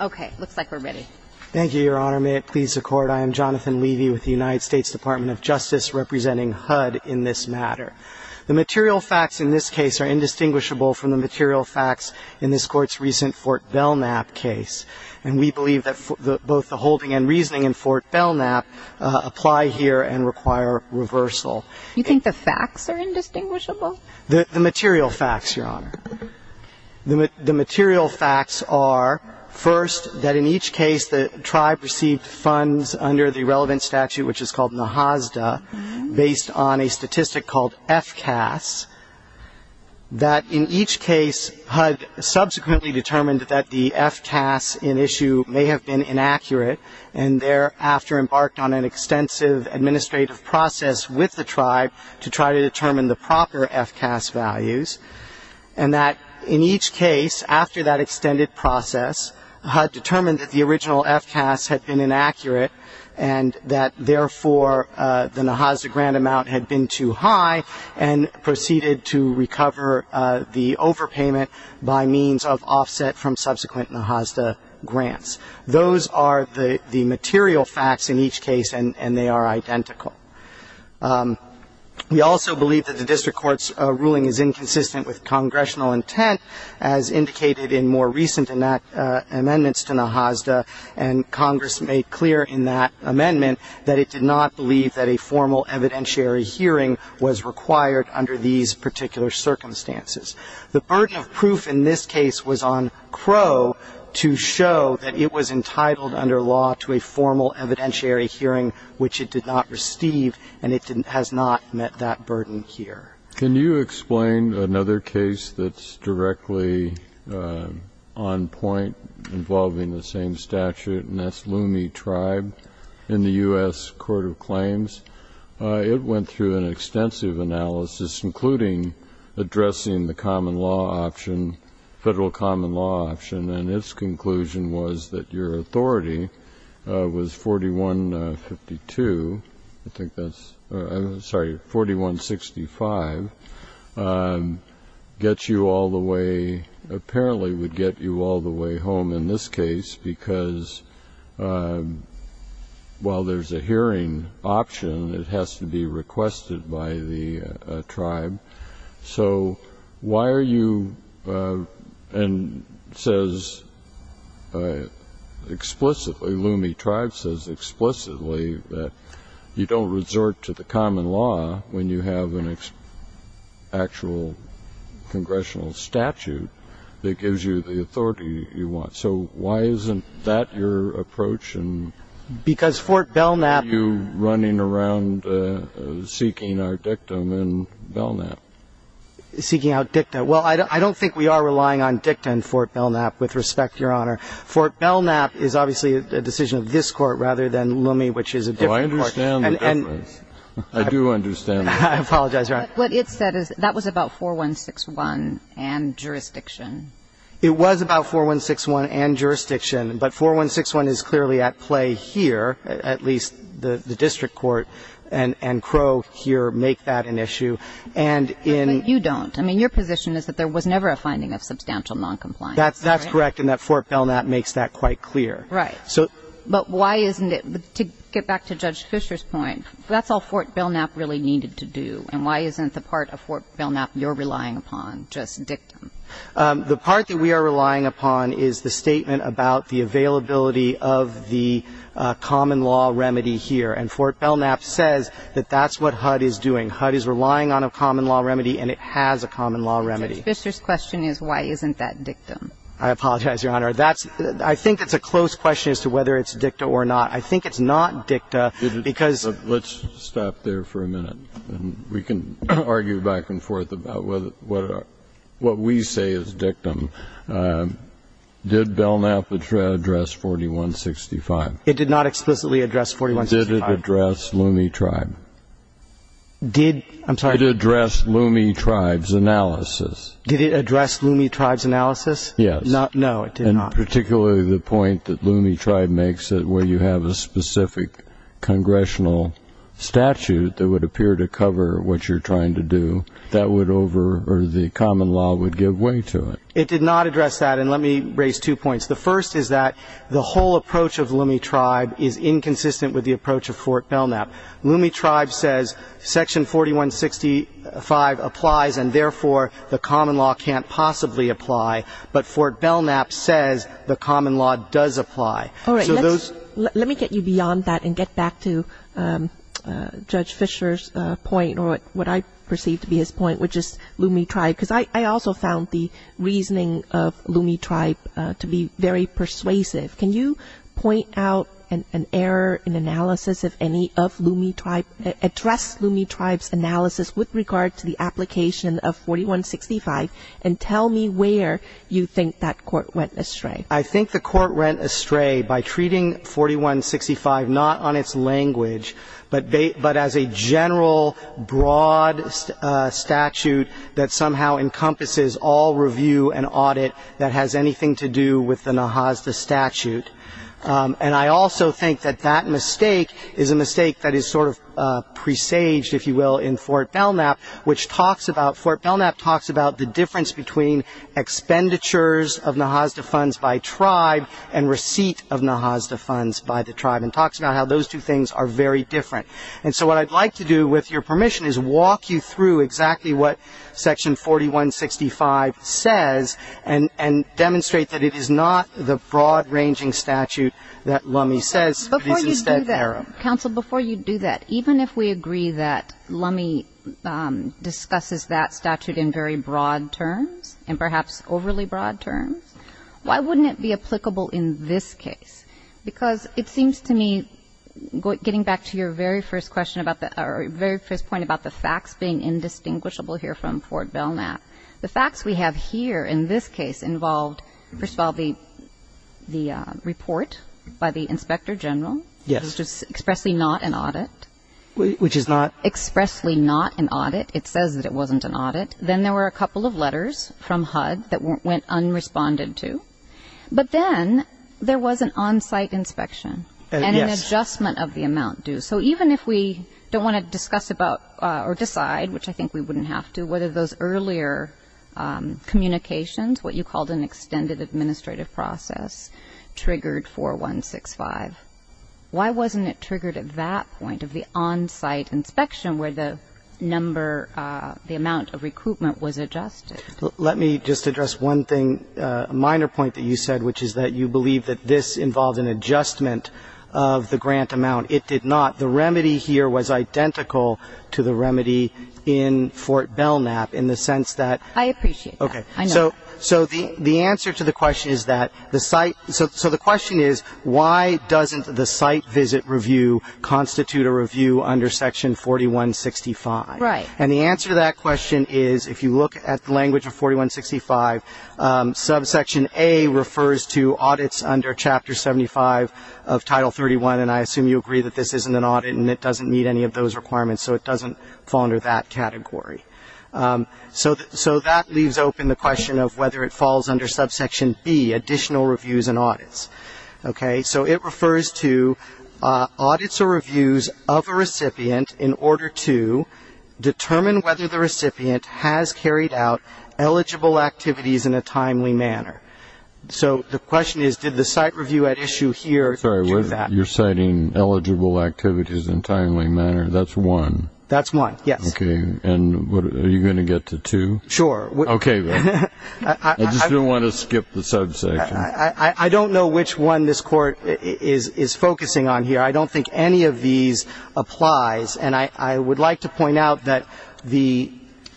Okay, looks like we're ready. Thank you, Your Honor. May it please the Court, I am Jonathan Levy with the United States Department of Justice, representing HUD in this matter. The material facts in this case are indistinguishable from the material facts in this Court's recent Fort Belknap case, and we believe that both the holding and reasoning in Fort Belknap apply here and require reversal. You think the facts are indistinguishable? The material facts, Your Honor. The material facts are, first, that in each case the tribe received funds under the relevant statute, which is called NAHASDA, based on a statistic called FCAS, that in each case HUD subsequently determined that the FCAS in issue may have been inaccurate, and thereafter embarked on an extensive administrative process with the tribe to try to determine the proper FCAS values, and that in each case, after that extended process, HUD determined that the original FCAS had been inaccurate and that, therefore, the NAHASDA grant amount had been too high, and proceeded to recover the overpayment by means of offset from subsequent NAHASDA grants. Those are the material facts in each case, and they are identical. We also believe that the district court's ruling is inconsistent with congressional intent, as indicated in more recent amendments to NAHASDA, and Congress made clear in that amendment that it did not believe that a formal evidentiary hearing was required under these particular circumstances. The burden of proof in this case was on Crow to show that it was entitled under law to a formal evidentiary hearing, which it did not receive, and it has not met that burden here. Can you explain another case that's directly on point involving the same statute, and that's Lume Tribe in the U.S. Court of Claims? It went through an extensive analysis, including addressing the common law option, federal common law option, and its conclusion was that your authority was 4152, I think that's, sorry, 4165, gets you all the way, apparently would get you all the way home in this case, because while there's a hearing option, it has to be requested by the tribe. So why are you, and says explicitly, Lume Tribe says explicitly that you don't resort to the common law when you have an actual congressional statute that gives you the authority you want. So why isn't that your approach? Because Fort Belknap. You running around seeking our dictum in Belknap. Seeking out dicta. Well, I don't think we are relying on dicta in Fort Belknap, with respect, Your Honor. Fort Belknap is obviously a decision of this Court rather than Lume, which is a different court. I understand the difference. I do understand the difference. I apologize, Your Honor. What it said is that was about 4161 and jurisdiction. It was about 4161 and jurisdiction, but 4161 is clearly at play here, at least the district court and Crow here make that an issue. But you don't. I mean, your position is that there was never a finding of substantial noncompliance. That's correct, and that Fort Belknap makes that quite clear. Right. But why isn't it? To get back to Judge Fischer's point, that's all Fort Belknap really needed to do, and why isn't the part of Fort Belknap you're relying upon just dictum? The part that we are relying upon is the statement about the availability of the common law remedy here, and Fort Belknap says that that's what HUD is doing. HUD is relying on a common law remedy, and it has a common law remedy. Judge Fischer's question is why isn't that dictum? I apologize, Your Honor. I think it's a close question as to whether it's dicta or not. I think it's not dicta because of... We can argue back and forth about what we say is dictum. Did Belknap address 4165? It did not explicitly address 4165. Did it address Lume Tribe? Did... I'm sorry. Did it address Lume Tribe's analysis? Did it address Lume Tribe's analysis? Yes. No, it did not. And particularly the point that Lume Tribe makes where you have a specific congressional statute that would appear to cover what you're trying to do, that would over... or the common law would give way to it. It did not address that, and let me raise two points. The first is that the whole approach of Lume Tribe is inconsistent with the approach of Fort Belknap. Lume Tribe says section 4165 applies, and therefore the common law can't possibly apply, but Fort Belknap says the common law does apply. All right. So those... Let me get you beyond that and get back to Judge Fischer's point or what I perceive to be his point, which is Lume Tribe, because I also found the reasoning of Lume Tribe to be very persuasive. Can you point out an error in analysis of any of Lume Tribe, address Lume Tribe's analysis with regard to the application of 4165, and tell me where you think that court went astray? I think the court went astray by treating 4165 not on its language, but as a general broad statute that somehow encompasses all review and audit that has anything to do with the NAJASDA statute. And I also think that that mistake is a mistake that is sort of presaged, if you will, in Fort Belknap, which talks about, Fort Belknap talks about the difference between expenditures of NAJASDA funds by tribe and receipt of NAJASDA funds by the tribe, and talks about how those two things are very different. And so what I'd like to do, with your permission, is walk you through exactly what section 4165 says and demonstrate that it is not the broad-ranging statute that Lume says, but is instead error. Counsel, before you do that, even if we agree that Lume discusses that statute in very broad terms, and perhaps overly broad terms, why wouldn't it be applicable in this case? Because it seems to me, getting back to your very first question about the, or very first point about the facts being indistinguishable here from Fort Belknap, the facts we have here in this case involved, first of all, the report by the Inspector General. It was expressly not an audit. Which is not? Expressly not an audit. It says that it wasn't an audit. Then there were a couple of letters from HUD that went unresponded to. But then there was an on-site inspection and an adjustment of the amount due. So even if we don't want to discuss about or decide, which I think we wouldn't have to, whether those earlier communications, what you called an extended administrative process, triggered 4165, why wasn't it triggered at that point of the on-site inspection where the number, the amount of recruitment was adjusted? Let me just address one thing, a minor point that you said, which is that you believe that this involved an adjustment of the grant amount. It did not. The remedy here was identical to the remedy in Fort Belknap in the sense that. I appreciate that. Okay. I know that. So the answer to the question is that the site. So the question is, why doesn't the site visit review constitute a review under Section 4165? Right. And the answer to that question is, if you look at the language of 4165, subsection A refers to audits under Chapter 75 of Title 31, and I assume you agree that this isn't an audit and it doesn't meet any of those requirements, so it doesn't fall under that category. So that leaves open the question of whether it falls under subsection B, additional reviews and audits. Okay. So it refers to audits or reviews of a recipient in order to determine whether the recipient has carried out eligible activities in a timely manner. So the question is, did the site review at issue here do that? Sorry, you're citing eligible activities in a timely manner. That's one. That's one, yes. Okay. And are you going to get to two? Sure. Okay, then. I just didn't want to skip the subsection. I don't know which one this Court is focusing on here. I don't think any of these applies, and I would like to point out that the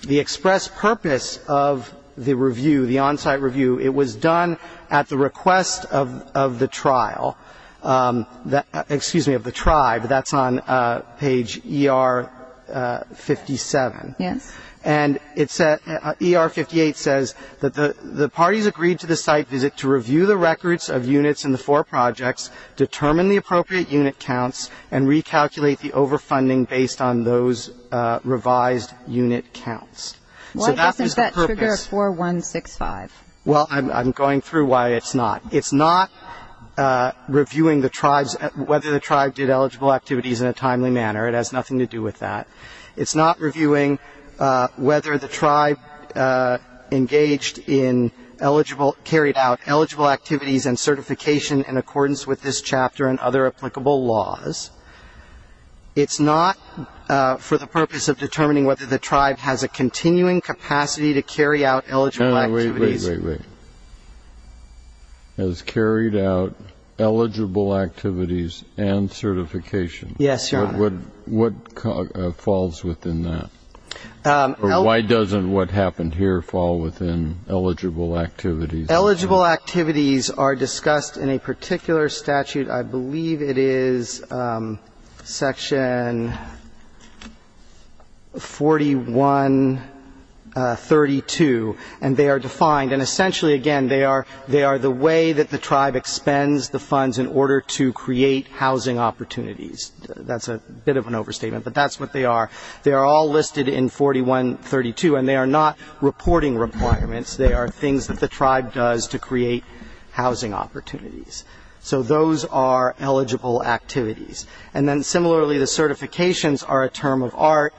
express purpose of the review, the on-site review, it was done at the request of the trial, excuse me, of the tribe. That's on page ER-57. Yes. And ER-58 says that the parties agreed to the site visit to review the records of units in the four projects, determine the appropriate unit counts, and recalculate the overfunding based on those revised unit counts. Why doesn't that trigger a 4165? Well, I'm going through why it's not. It's not reviewing the tribes, whether the tribe did eligible activities in a timely manner. It has nothing to do with that. It's not reviewing whether the tribe engaged in eligible, carried out eligible activities and certification in accordance with this chapter and other applicable laws. It's not for the purpose of determining whether the tribe has a continuing capacity to carry out eligible activities Wait, wait. Has carried out eligible activities and certification. Yes, Your Honor. What falls within that? Why doesn't what happened here fall within eligible activities? Eligible activities are discussed in a particular statute. I believe it is section 4132, and they are defined. And essentially, again, they are the way that the tribe expends the funds in order to create housing opportunities. That's a bit of an overstatement, but that's what they are. They are all listed in 4132, and they are not reporting requirements. They are things that the tribe does to create housing opportunities. So those are eligible activities. And then similarly, the certifications are a term of art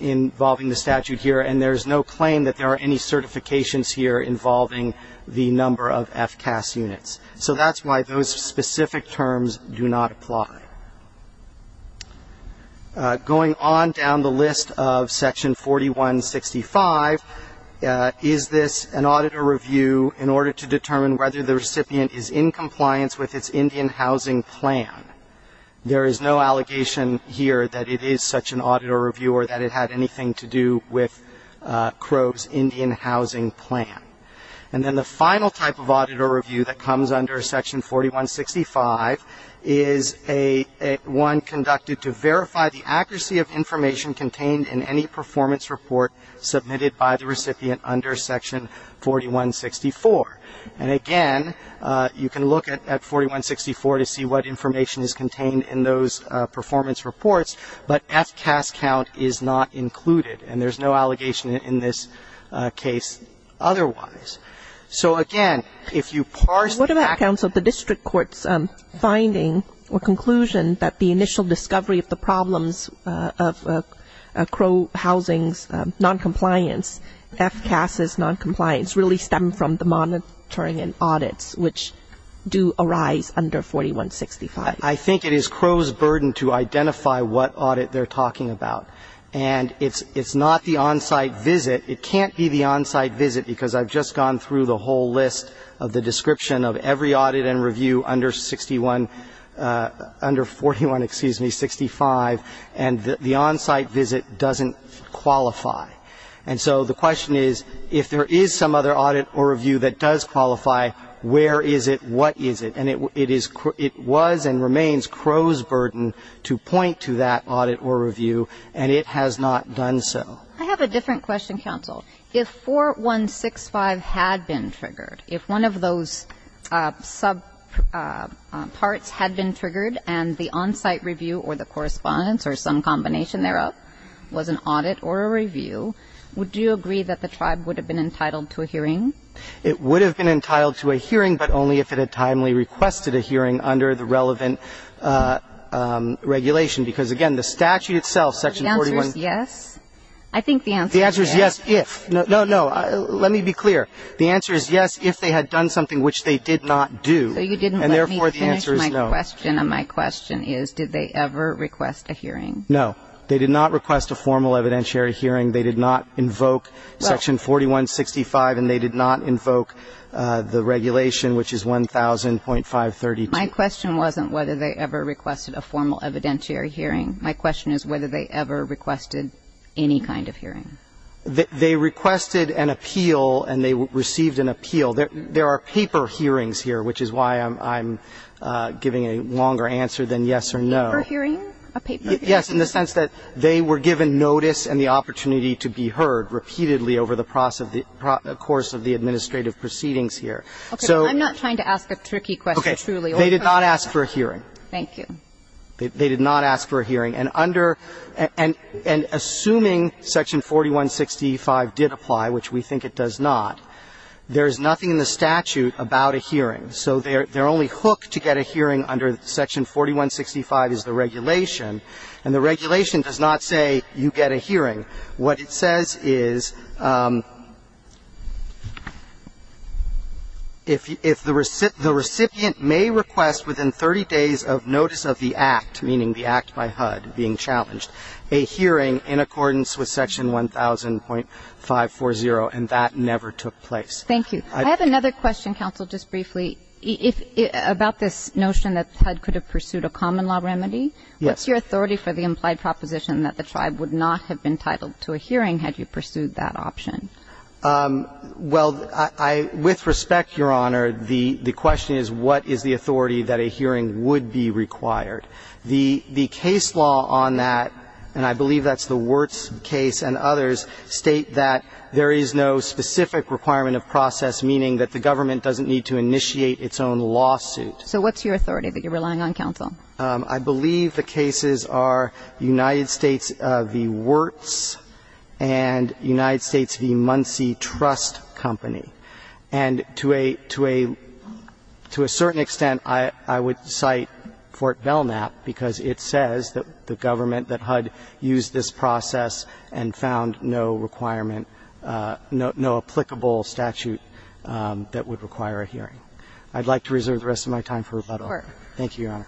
involving the statute here, and there is no claim that there are any certifications here involving the number of FCAS units. So that's why those specific terms do not apply. Going on down the list of section 4165, is this an auditor review in order to determine whether the recipient is in compliance with its Indian housing plan? There is no allegation here that it is such an auditor review or that it had anything to do with Crow's Indian housing plan. And then the final type of auditor review that comes under section 4165 is one conducted to verify the accuracy of under section 4164. And again, you can look at 4164 to see what information is contained in those performance reports, but FCAS count is not included, and there is no allegation in this case otherwise. So again, if you parse back finding or conclusion that the initial discovery of the problems of Crow Housing's noncompliance, FCAS's noncompliance, really stem from the monitoring and audits which do arise under 4165. I think it is Crow's burden to identify what audit they're talking about. And it's not the on-site visit. It can't be the on-site visit because I've just gone through the whole list of the description of every audit and review under 61 under 41, excuse me, 65, and the on-site visit doesn't qualify. And so the question is, if there is some other audit or review that does qualify, where is it? What is it? And it was and remains Crow's burden to point to that audit or review, and it has not done so. I have a different question, counsel. If 4165 had been triggered, if one of those subparts had been triggered and the on-site review or the correspondence or some combination thereof was an audit or a review, would you agree that the tribe would have been entitled to a hearing? It would have been entitled to a hearing, but only if it had timely requested a hearing under the relevant regulation, because, again, the statute itself, section 41. The answer is yes? I think the answer is yes. The answer is yes, if. No, no. Let me be clear. The answer is yes, if they had done something which they did not do. So you didn't let me finish my question, and my question is, did they ever request a hearing? No. They did not request a formal evidentiary hearing. They did not invoke section 4165, and they did not invoke the regulation, which is 1000.532. My question wasn't whether they ever requested a formal evidentiary hearing. My question is whether they ever requested any kind of hearing. They requested an appeal, and they received an appeal. There are paper hearings here, which is why I'm giving a longer answer than yes or no. Paper hearing? A paper hearing? Yes, in the sense that they were given notice and the opportunity to be heard repeatedly over the course of the administrative proceedings here. Okay. I'm not trying to ask a tricky question, truly. They did not ask for a hearing. Thank you. They did not ask for a hearing. And under and assuming section 4165 did apply, which we think it does not, there is nothing in the statute about a hearing. So they're only hooked to get a hearing under section 4165 is the regulation, and the regulation does not say you get a hearing. What it says is if the recipient may request within 30 days of notice of the act, meaning the act by HUD being challenged, a hearing in accordance with section 1000.540, and that never took place. Thank you. I have another question, counsel, just briefly, about this notion that HUD could have pursued a common law remedy. Yes. What's your authority for the implied proposition that the tribe would not have been titled to a hearing had you pursued that option? Well, with respect, Your Honor, the question is what is the authority that a hearing would be required. The case law on that, and I believe that's the Wirtz case and others, state that there is no specific requirement of process, meaning that the government doesn't need to initiate its own lawsuit. So what's your authority that you're relying on, counsel? I believe the cases are United States v. Wirtz and United States v. Muncie Trust Company. And to a certain extent, I would cite Fort Belknap, because it says that the government that HUD used this process and found no requirement, no applicable statute that would require a hearing. I'd like to reserve the rest of my time for rebuttal. Court. Thank you, Your Honor.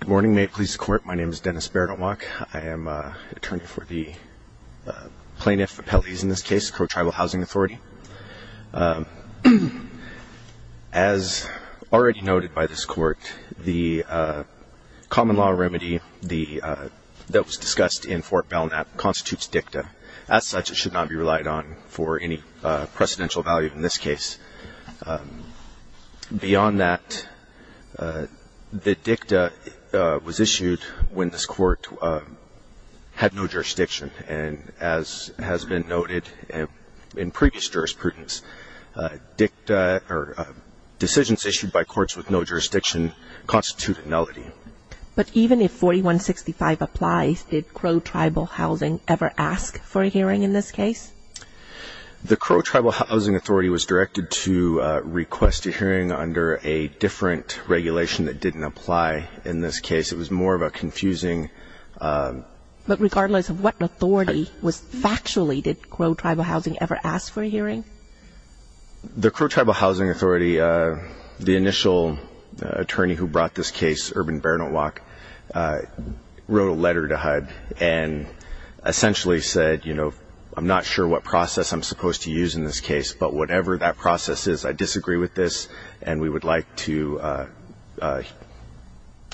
Good morning. May it please the Court. My name is Dennis Baradon-Wock. I am attorney for the plaintiff appellees in this case, Crow Tribal Housing Authority. As already noted by this Court, the common law remedy that was discussed in Fort Belknap constitutes dicta. As such, it should not be relied on for any precedential value in this case. Beyond that, the dicta was issued when this Court had no jurisdiction. And as has been noted in previous jurisprudence, decisions issued by courts with no jurisdiction constitute nullity. But even if 4165 applies, did Crow Tribal Housing ever ask for a hearing in this case? The Crow Tribal Housing Authority was directed to request a hearing under a different regulation that didn't apply in this case. It was more of a confusing. But regardless of what authority was factually, did Crow Tribal Housing ever ask for a hearing? The Crow Tribal Housing Authority, the initial attorney who brought this case, Urban Bernow-Wock, wrote a letter to HUD and essentially said, you know, I'm not sure what process I'm supposed to use in this case, but whatever that process is, I disagree with this, and we would like to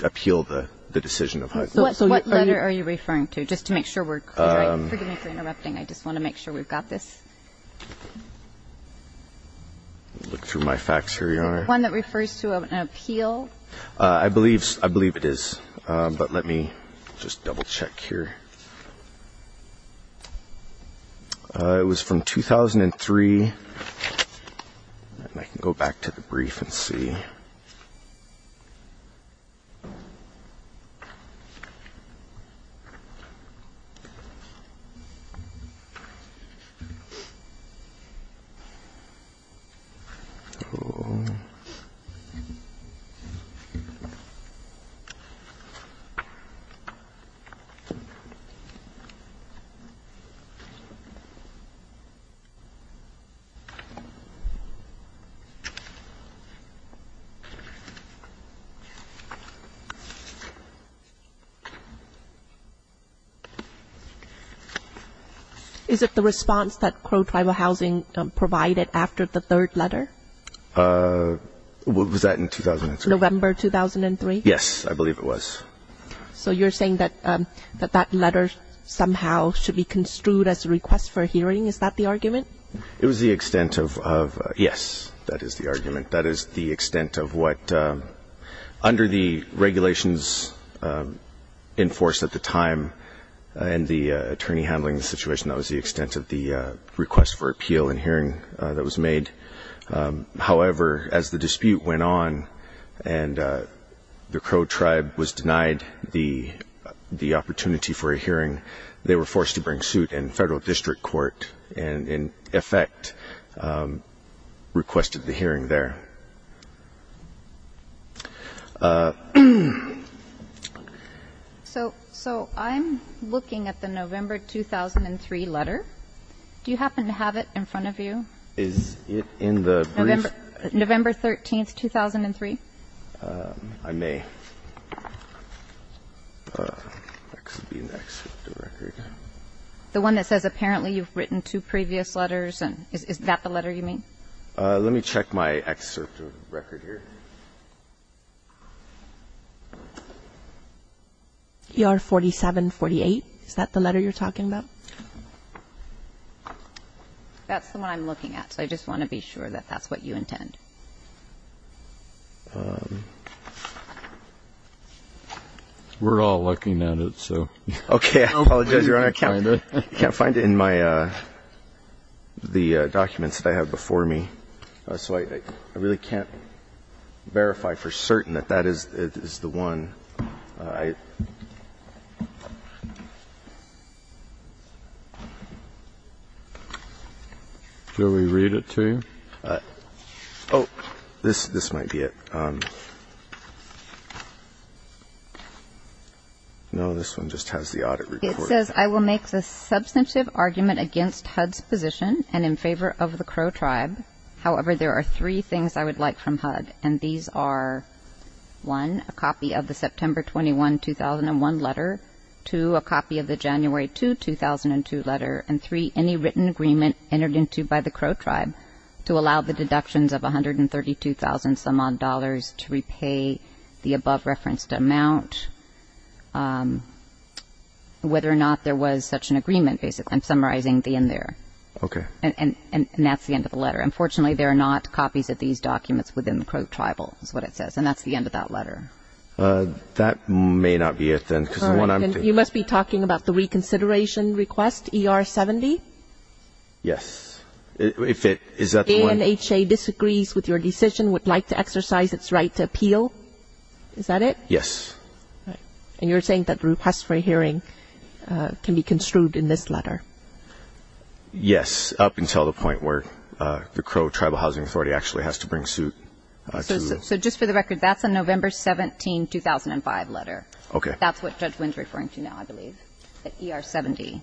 appeal the decision of HUD. So what letter are you referring to? Just to make sure we're correct. Forgive me for interrupting. I just want to make sure we've got this. Look through my facts here, Your Honor. One that refers to an appeal. I believe it is. But let me just double-check here. It was from 2003. I can go back to the brief and see. Okay. Is it the response that Crow Tribal Housing provided after the third letter? Was that in 2003? November 2003? Yes, I believe it was. So you're saying that that letter somehow should be construed as a request for a hearing? Is that the argument? It was the extent of, yes, that is the argument. That is the extent of the letter. That is the extent of what, under the regulations in force at the time and the attorney handling the situation, that was the extent of the request for appeal and hearing that was made. However, as the dispute went on and the Crow Tribe was denied the opportunity for a hearing, they were forced to bring suit, and federal district court in effect requested the hearing there. So I'm looking at the November 2003 letter. Do you happen to have it in front of you? Is it in the brief? November 13, 2003. I may. The one that says apparently you've written two previous letters. Is that the letter you mean? Let me check my excerpt of the record here. ER 4748, is that the letter you're talking about? That's the one I'm looking at, so I just want to be sure that that's what you intend. We're all looking at it. Okay. I apologize, Your Honor. I can't find it in the documents that I have before me, so I really can't verify for certain that that is the one. Should we read it to you? Oh, this might be it. No, this one just has the audit report. It says, I will make the substantive argument against HUD's position and in favor of the Crow Tribe. However, there are three things I would like from HUD, and these are, one, a copy of the September 21, 2001 letter, two, a copy of the January 2, 2002 letter, and three, any written agreement entered into by the Crow Tribe to allow the deductions of $132,000 to repay the above-referenced amount, whether or not there was such an agreement, basically. I'm summarizing the end there. Okay. And that's the end of the letter. Unfortunately, there are not copies of these documents within the Crow Tribal, is what it says, and that's the end of that letter. That may not be it then. You must be talking about the reconsideration request, ER-70? Yes. If it is that the one? ANHA disagrees with your decision, would like to exercise its right to appeal. Is that it? Yes. And you're saying that the request for a hearing can be construed in this letter? Yes, up until the point where the Crow Tribal Housing Authority actually has to bring suit. So just for the record, that's a November 17, 2005 letter. Okay. That's what Judge Wynn's referring to now, I believe, that ER-70.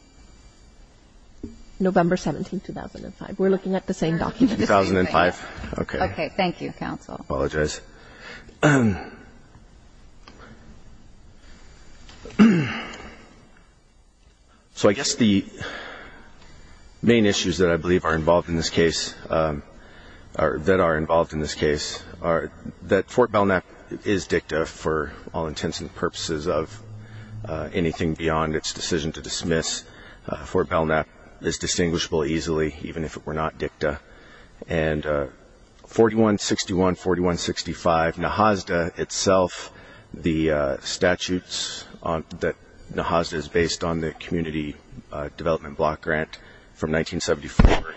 November 17, 2005. We're looking at the same document. 2005. Okay. Okay. Thank you, counsel. Apologize. So I guess the main issues that I believe are involved in this case, that are involved in this case, are that Fort Belknap is dicta for all intents and purposes of anything beyond its decision to dismiss. Fort Belknap is distinguishable easily, even if it were not dicta. And 4161, 4165, NAHASDA itself, the statutes that NAHASDA is based on, the Community Development Block Grant from 1974,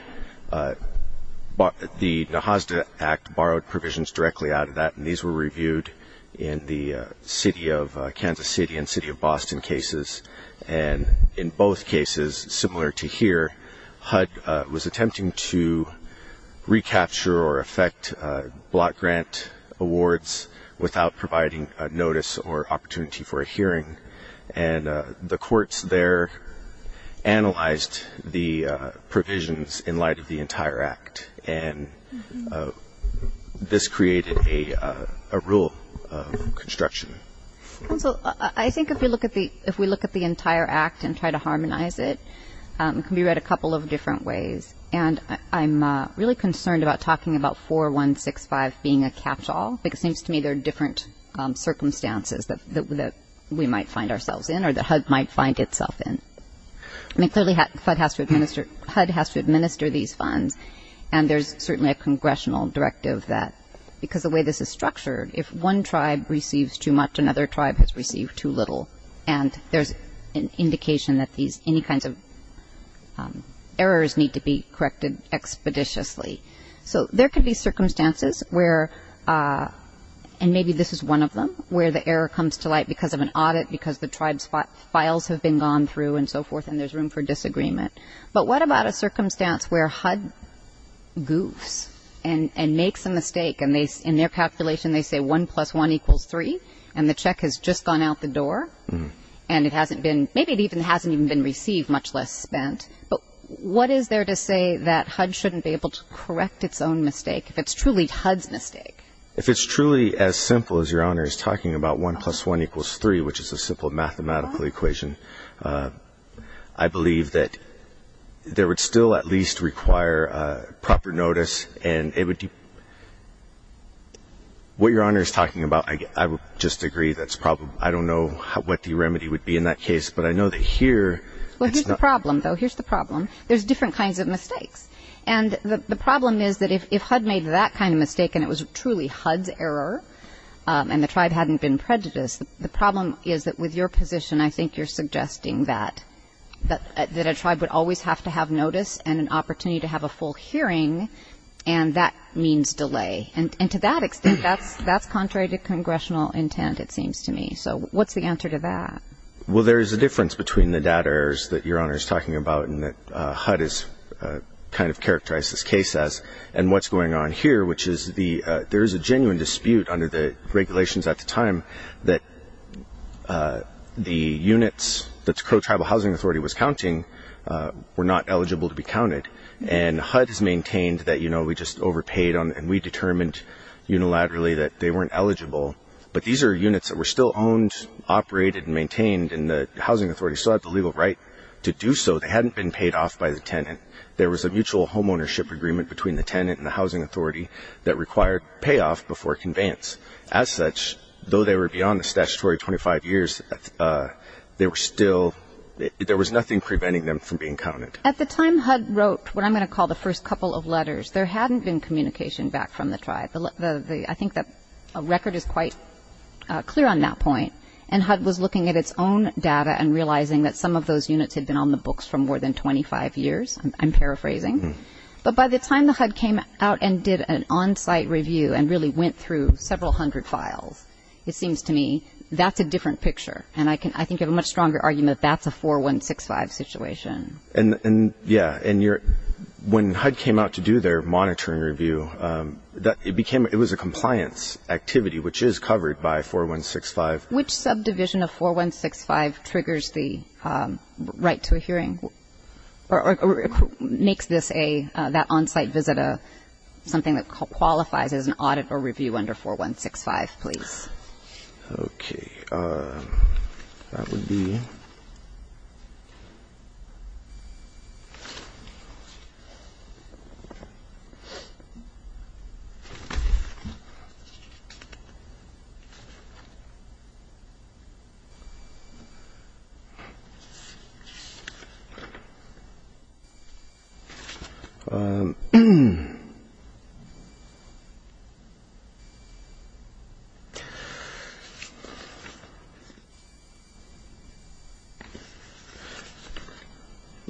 the NAHASDA Act borrowed provisions directly out of that, and these were reviewed in the Kansas City and City of Boston cases. And in both cases, similar to here, HUD was attempting to recapture or affect block grant awards without providing a notice or opportunity for a hearing. And the courts there analyzed the provisions in light of the entire act. And this created a rule of construction. Counsel, I think if we look at the entire act and try to harmonize it, it can be read a couple of different ways. And I'm really concerned about talking about 4165 being a catch-all, because it seems to me that there are different circumstances that we might find ourselves in or that HUD might find itself in. I mean, clearly HUD has to administer these funds, and there's certainly a congressional directive that, because the way this is structured, if one tribe receives too much, another tribe has received too little. And there's an indication that any kinds of errors need to be corrected expeditiously. So there could be circumstances where, and maybe this is one of them, where the error comes to light because of an audit, because the tribe's files have been gone through and so forth, and there's room for disagreement. But what about a circumstance where HUD goofs and makes a mistake, and in their calculation they say one plus one equals three, and the check has just gone out the door, and it hasn't been, maybe it hasn't even been received, much less spent. But what is there to say that HUD shouldn't be able to correct its own mistake, if it's truly HUD's mistake? If it's truly as simple as Your Honor is talking about, one plus one equals three, which is a simple mathematical equation, I believe that there would still at least require proper notice, and it would be, what Your Honor is talking about, I would just agree that's probably, I don't know what the remedy would be in that case. But I know that here, it's not. Here's the problem, though. Here's the problem. There's different kinds of mistakes. And the problem is that if HUD made that kind of mistake and it was truly HUD's error, and the tribe hadn't been prejudiced, the problem is that with your position, I think you're suggesting that a tribe would always have to have notice and an opportunity to have a full hearing, and that means delay. And to that extent, that's contrary to congressional intent, it seems to me. So what's the answer to that? Well, there is a difference between the data errors that Your Honor is talking about and that HUD has kind of characterized this case as, and what's going on here, which is there is a genuine dispute under the regulations at the time that the units that the Crow Tribal Housing Authority was counting were not eligible to be counted. And HUD has maintained that, you know, we just overpaid and we determined unilaterally that they weren't eligible, but these are units that were still owned, operated, and maintained, and the housing authority still had the legal right to do so. They hadn't been paid off by the tenant. There was a mutual homeownership agreement between the tenant and the housing authority that required payoff before conveyance. As such, though they were beyond the statutory 25 years, there was nothing preventing them from being counted. At the time HUD wrote what I'm going to call the first couple of letters, there hadn't been communication back from the tribe. I think that a record is quite clear on that point. And HUD was looking at its own data and realizing that some of those units had been on the books for more than 25 years, I'm paraphrasing. But by the time the HUD came out and did an on-site review and really went through several hundred files, it seems to me that's a different picture. And I think you have a much stronger argument that that's a 4165 situation. Yeah, and when HUD came out to do their monitoring review, it was a compliance activity, which is covered by 4165. Which subdivision of 4165 triggers the right to a hearing or makes that on-site visit something that qualifies as an audit or review under 4165, please? Okay. That would be.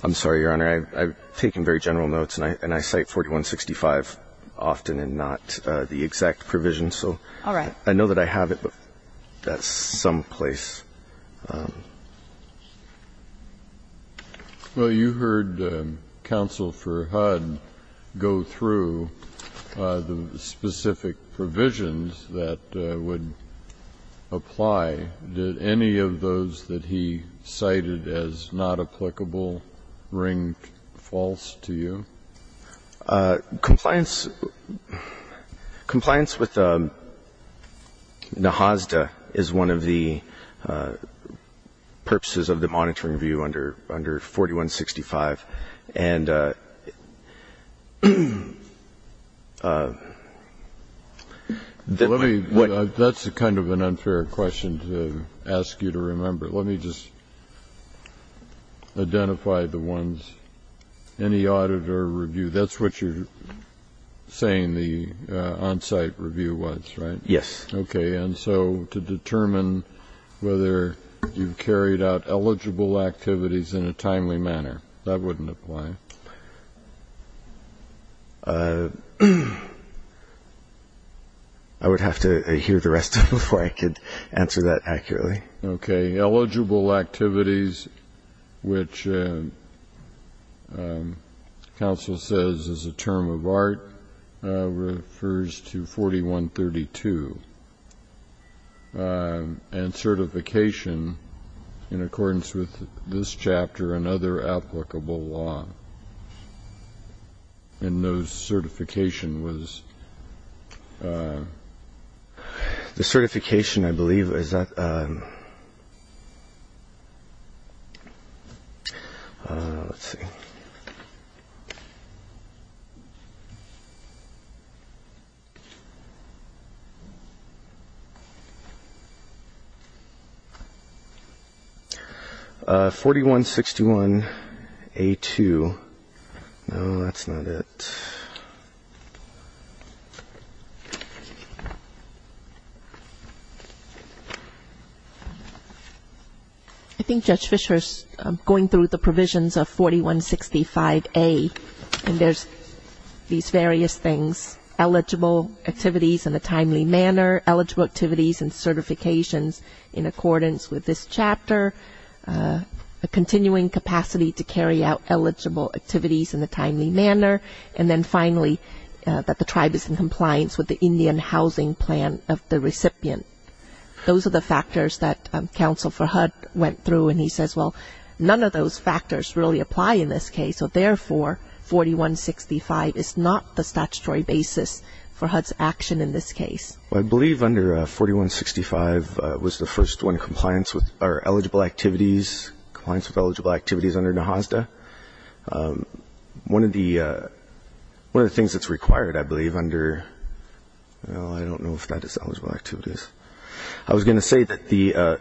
I'm sorry, Your Honor. I've taken very general notes, and I cite 4165 often and not the exact provision. All right. So I know that I have it, but that's someplace. Well, you heard Counsel for HUD go through the specific provisions that would apply. Did any of those that he cited as not applicable ring false to you? Compliance with the HOSDA is one of the things that we do. It's one of the purposes of the monitoring review under 4165. That's kind of an unfair question to ask you to remember. Let me just identify the ones. Any audit or review, that's what you're saying the on-site review was, right? Yes. Okay. And so to determine whether you've carried out eligible activities in a timely manner, that wouldn't apply. I would have to hear the rest of it before I could answer that accurately. Okay. Eligible activities, which Counsel says is a term of art, refers to 4132. And certification, in accordance with this chapter and other applicable law. And those certification was? The certification, I believe, is that – let's see. 4161A2. No, that's not it. I think Judge Fischer is going through the provisions of 4165A. And there's these various things, eligible activities in a timely manner, eligible activities and certifications in accordance with this chapter, a continuing capacity to carry out eligible activities in a timely manner, and then finally that the tribe is in compliance with the Indian housing plan of the recipient. Those are the factors that Counsel for HUD went through. And he says, well, none of those factors really apply in this case. So, therefore, 4165 is not the statutory basis for HUD's action in this case. Well, I believe under 4165 was the first one, compliance with our eligible activities, compliance with eligible activities under NAHASDA. One of the things that's required, I believe, under – well, I don't know if that is eligible activities. I was going to say that the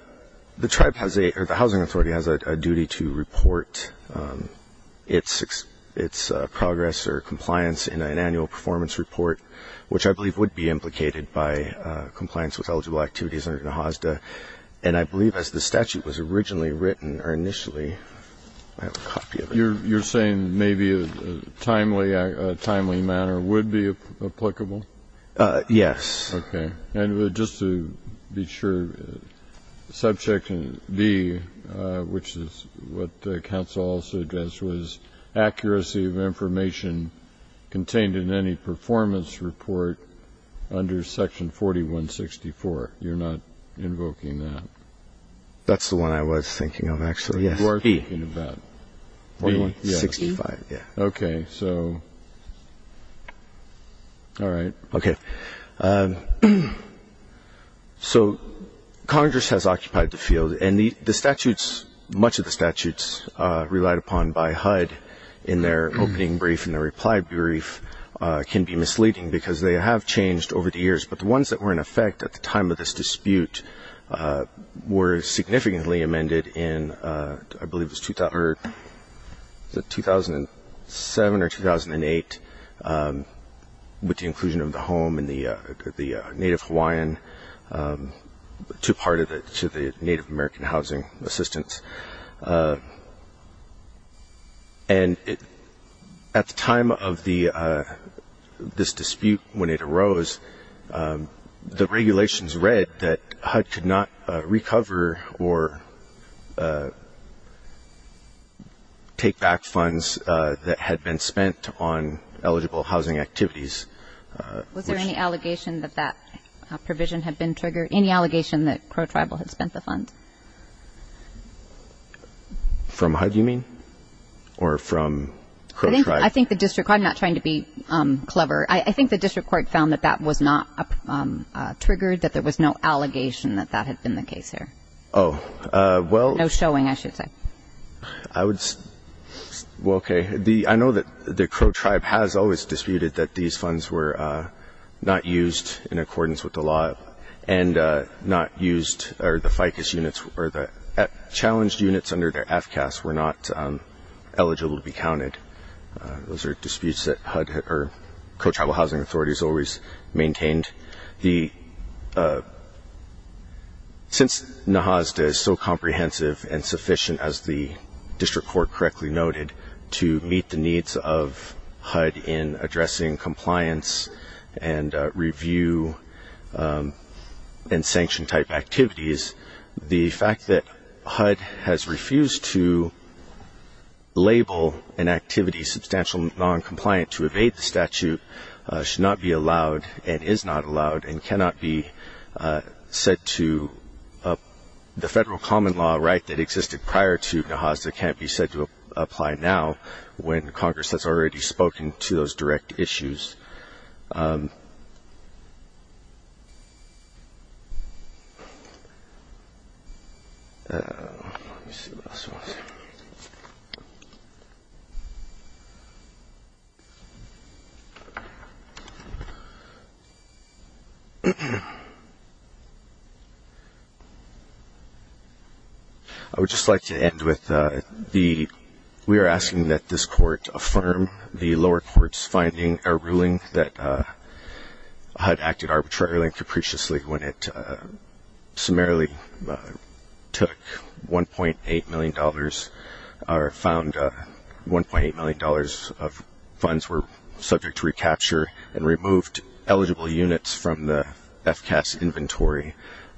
tribe has a – or the Housing Authority has a duty to report its progress or compliance in an annual performance report, which I believe would be implicated by compliance with eligible activities under NAHASDA. And I believe as the statute was originally written or initially – I have a copy of it. You're saying maybe a timely manner would be applicable? Yes. Okay. And just to be sure, subject in B, which is what Counsel also addressed, was accuracy of information contained in any performance report under Section 4164. You're not invoking that? That's the one I was thinking of, actually, yes. Who are you thinking of that? B? 4165, yeah. Okay. So, all right. Okay. So Congress has occupied the field. And the statutes, much of the statutes relied upon by HUD in their opening brief and their reply brief can be misleading because they have changed over the years. But the ones that were in effect at the time of this dispute were significantly amended in, I believe it was 2007 or 2008 with the inclusion of the home and the Native Hawaiian to the Native American housing assistance. And at the time of this dispute when it arose, the regulations read that HUD could not recover or take back funds that had been spent on eligible housing activities. Was there any allegation that that provision had been triggered, any allegation that Crow Tribal had spent the funds? From HUD, you mean? Or from Crow Tribe? I think the district court, I'm not trying to be clever, I think the district court found that that was not triggered, that there was no allegation that that had been the case there. Oh, well. No showing, I should say. Well, okay. I know that the Crow Tribe has always disputed that these funds were not used in accordance with the law and not used, or the FICUS units, or the challenged units under the FCAS were not eligible to be counted. Those are disputes that HUD or Crow Tribal Housing Authorities always maintained. Since NAHASDA is so comprehensive and sufficient, as the district court correctly noted, to meet the needs of HUD in addressing compliance and review and sanction-type activities, the fact that HUD has refused to label an activity substantially noncompliant to evade the statute should not be allowed and is not allowed and cannot be said to the federal common law right that existed prior to NAHASDA and cannot be said to apply now when Congress has already spoken to those direct issues. I would just like to end with, we are asking that this court affirm the lower court's finding a ruling that HUD acted arbitrarily and capriciously when it summarily took $1.8 million, or found $1.8 million of funds were subject to recapture and removed eligible units from the FCAS inventory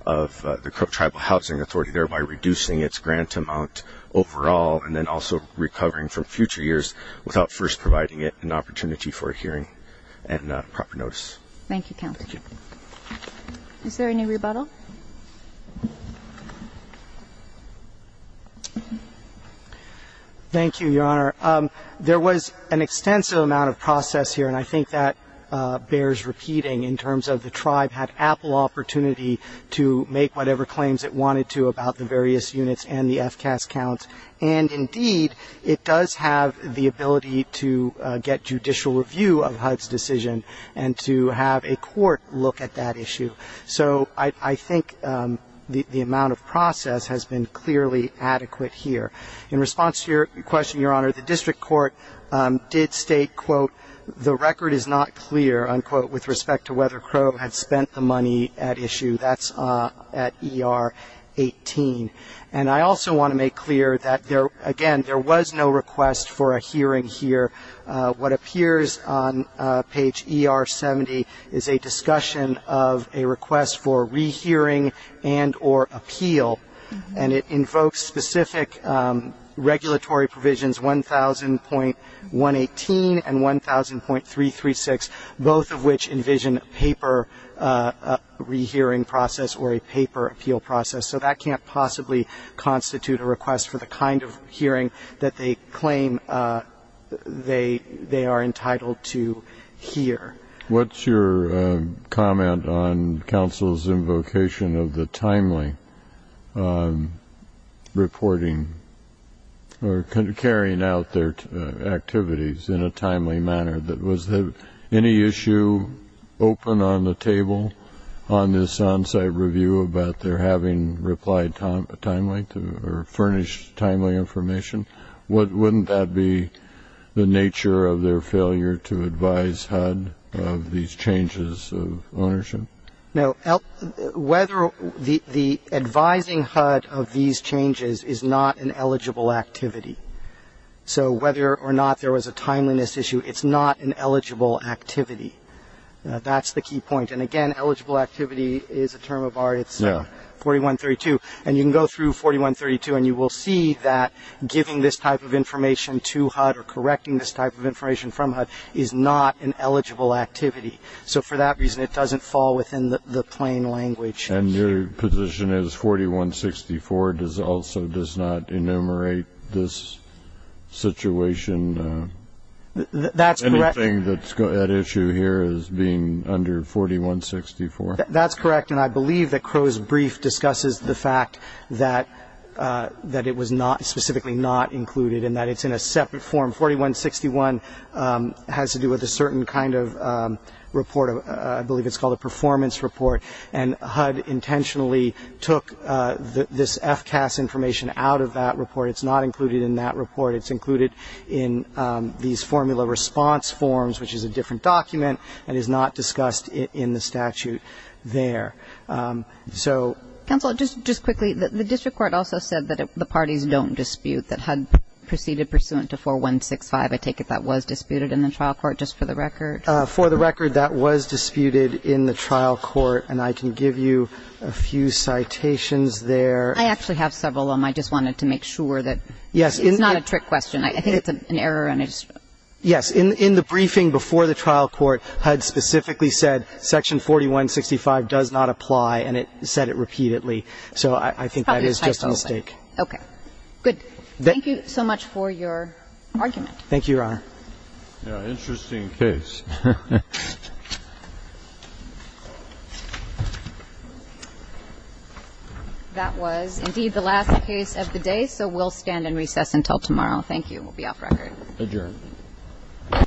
of the Crow Tribal Housing Authority, thereby reducing its grant amount overall and then also recovering from future years without first providing it an opportunity for a hearing and proper notice. Thank you, Counsel. Thank you. Is there any rebuttal? Thank you, Your Honor. There was an extensive amount of process here, and I think that bears repeating in terms of the tribe had ample opportunity to make whatever claims it wanted to about the various units and the FCAS counts. And indeed, it does have the ability to get judicial review of HUD's decision and to have a court look at that issue. So I think the amount of process has been clearly adequate here. In response to your question, Your Honor, the district court did state, quote, the record is not clear, unquote, with respect to whether Crow had spent the money at issue. That's at ER 18. And I also want to make clear that, again, there was no request for a hearing here. What appears on page ER 70 is a discussion of a request for rehearing and or appeal, and it invokes specific regulatory provisions, 1000.118 and 1000.336, both of which envision a paper rehearing process or a paper appeal process. So that can't possibly constitute a request for the kind of hearing that they claim they are entitled to hear. What's your comment on counsel's invocation of the timely reporting or carrying out their activities in a timely manner? Was there any issue open on the table on this on-site review about their having replied timely or furnished timely information? Wouldn't that be the nature of their failure to advise HUD of these changes of ownership? No. Whether the advising HUD of these changes is not an eligible activity. So whether or not there was a timeliness issue, it's not an eligible activity. That's the key point. And, again, eligible activity is a term of art. It's 4132. And you can go through 4132, and you will see that giving this type of information to HUD or correcting this type of information from HUD is not an eligible activity. So for that reason, it doesn't fall within the plain language. And your position is 4164 also does not enumerate this situation? Anything at issue here is being under 4164. That's correct. And I believe that Crow's brief discusses the fact that it was specifically not included and that it's in a separate form. 4161 has to do with a certain kind of report. I believe it's called a performance report. And HUD intentionally took this FCAS information out of that report. It's not included in that report. It's included in these formula response forms, which is a different document, and is not discussed in the statute there. Counsel, just quickly, the district court also said that the parties don't dispute, that HUD proceeded pursuant to 4165. I take it that was disputed in the trial court, just for the record? For the record, that was disputed in the trial court. And I can give you a few citations there. I actually have several of them. I just wanted to make sure that it's not a trick question. I think it's an error. Yes. In the briefing before the trial court, HUD specifically said section 4165 does not apply, and it said it repeatedly. So I think that is just a mistake. Okay. Good. Thank you so much for your argument. Thank you, Your Honor. Interesting case. That was, indeed, the last case of the day, so we'll stand and recess until tomorrow. Thank you. We'll be off record. Adjourned.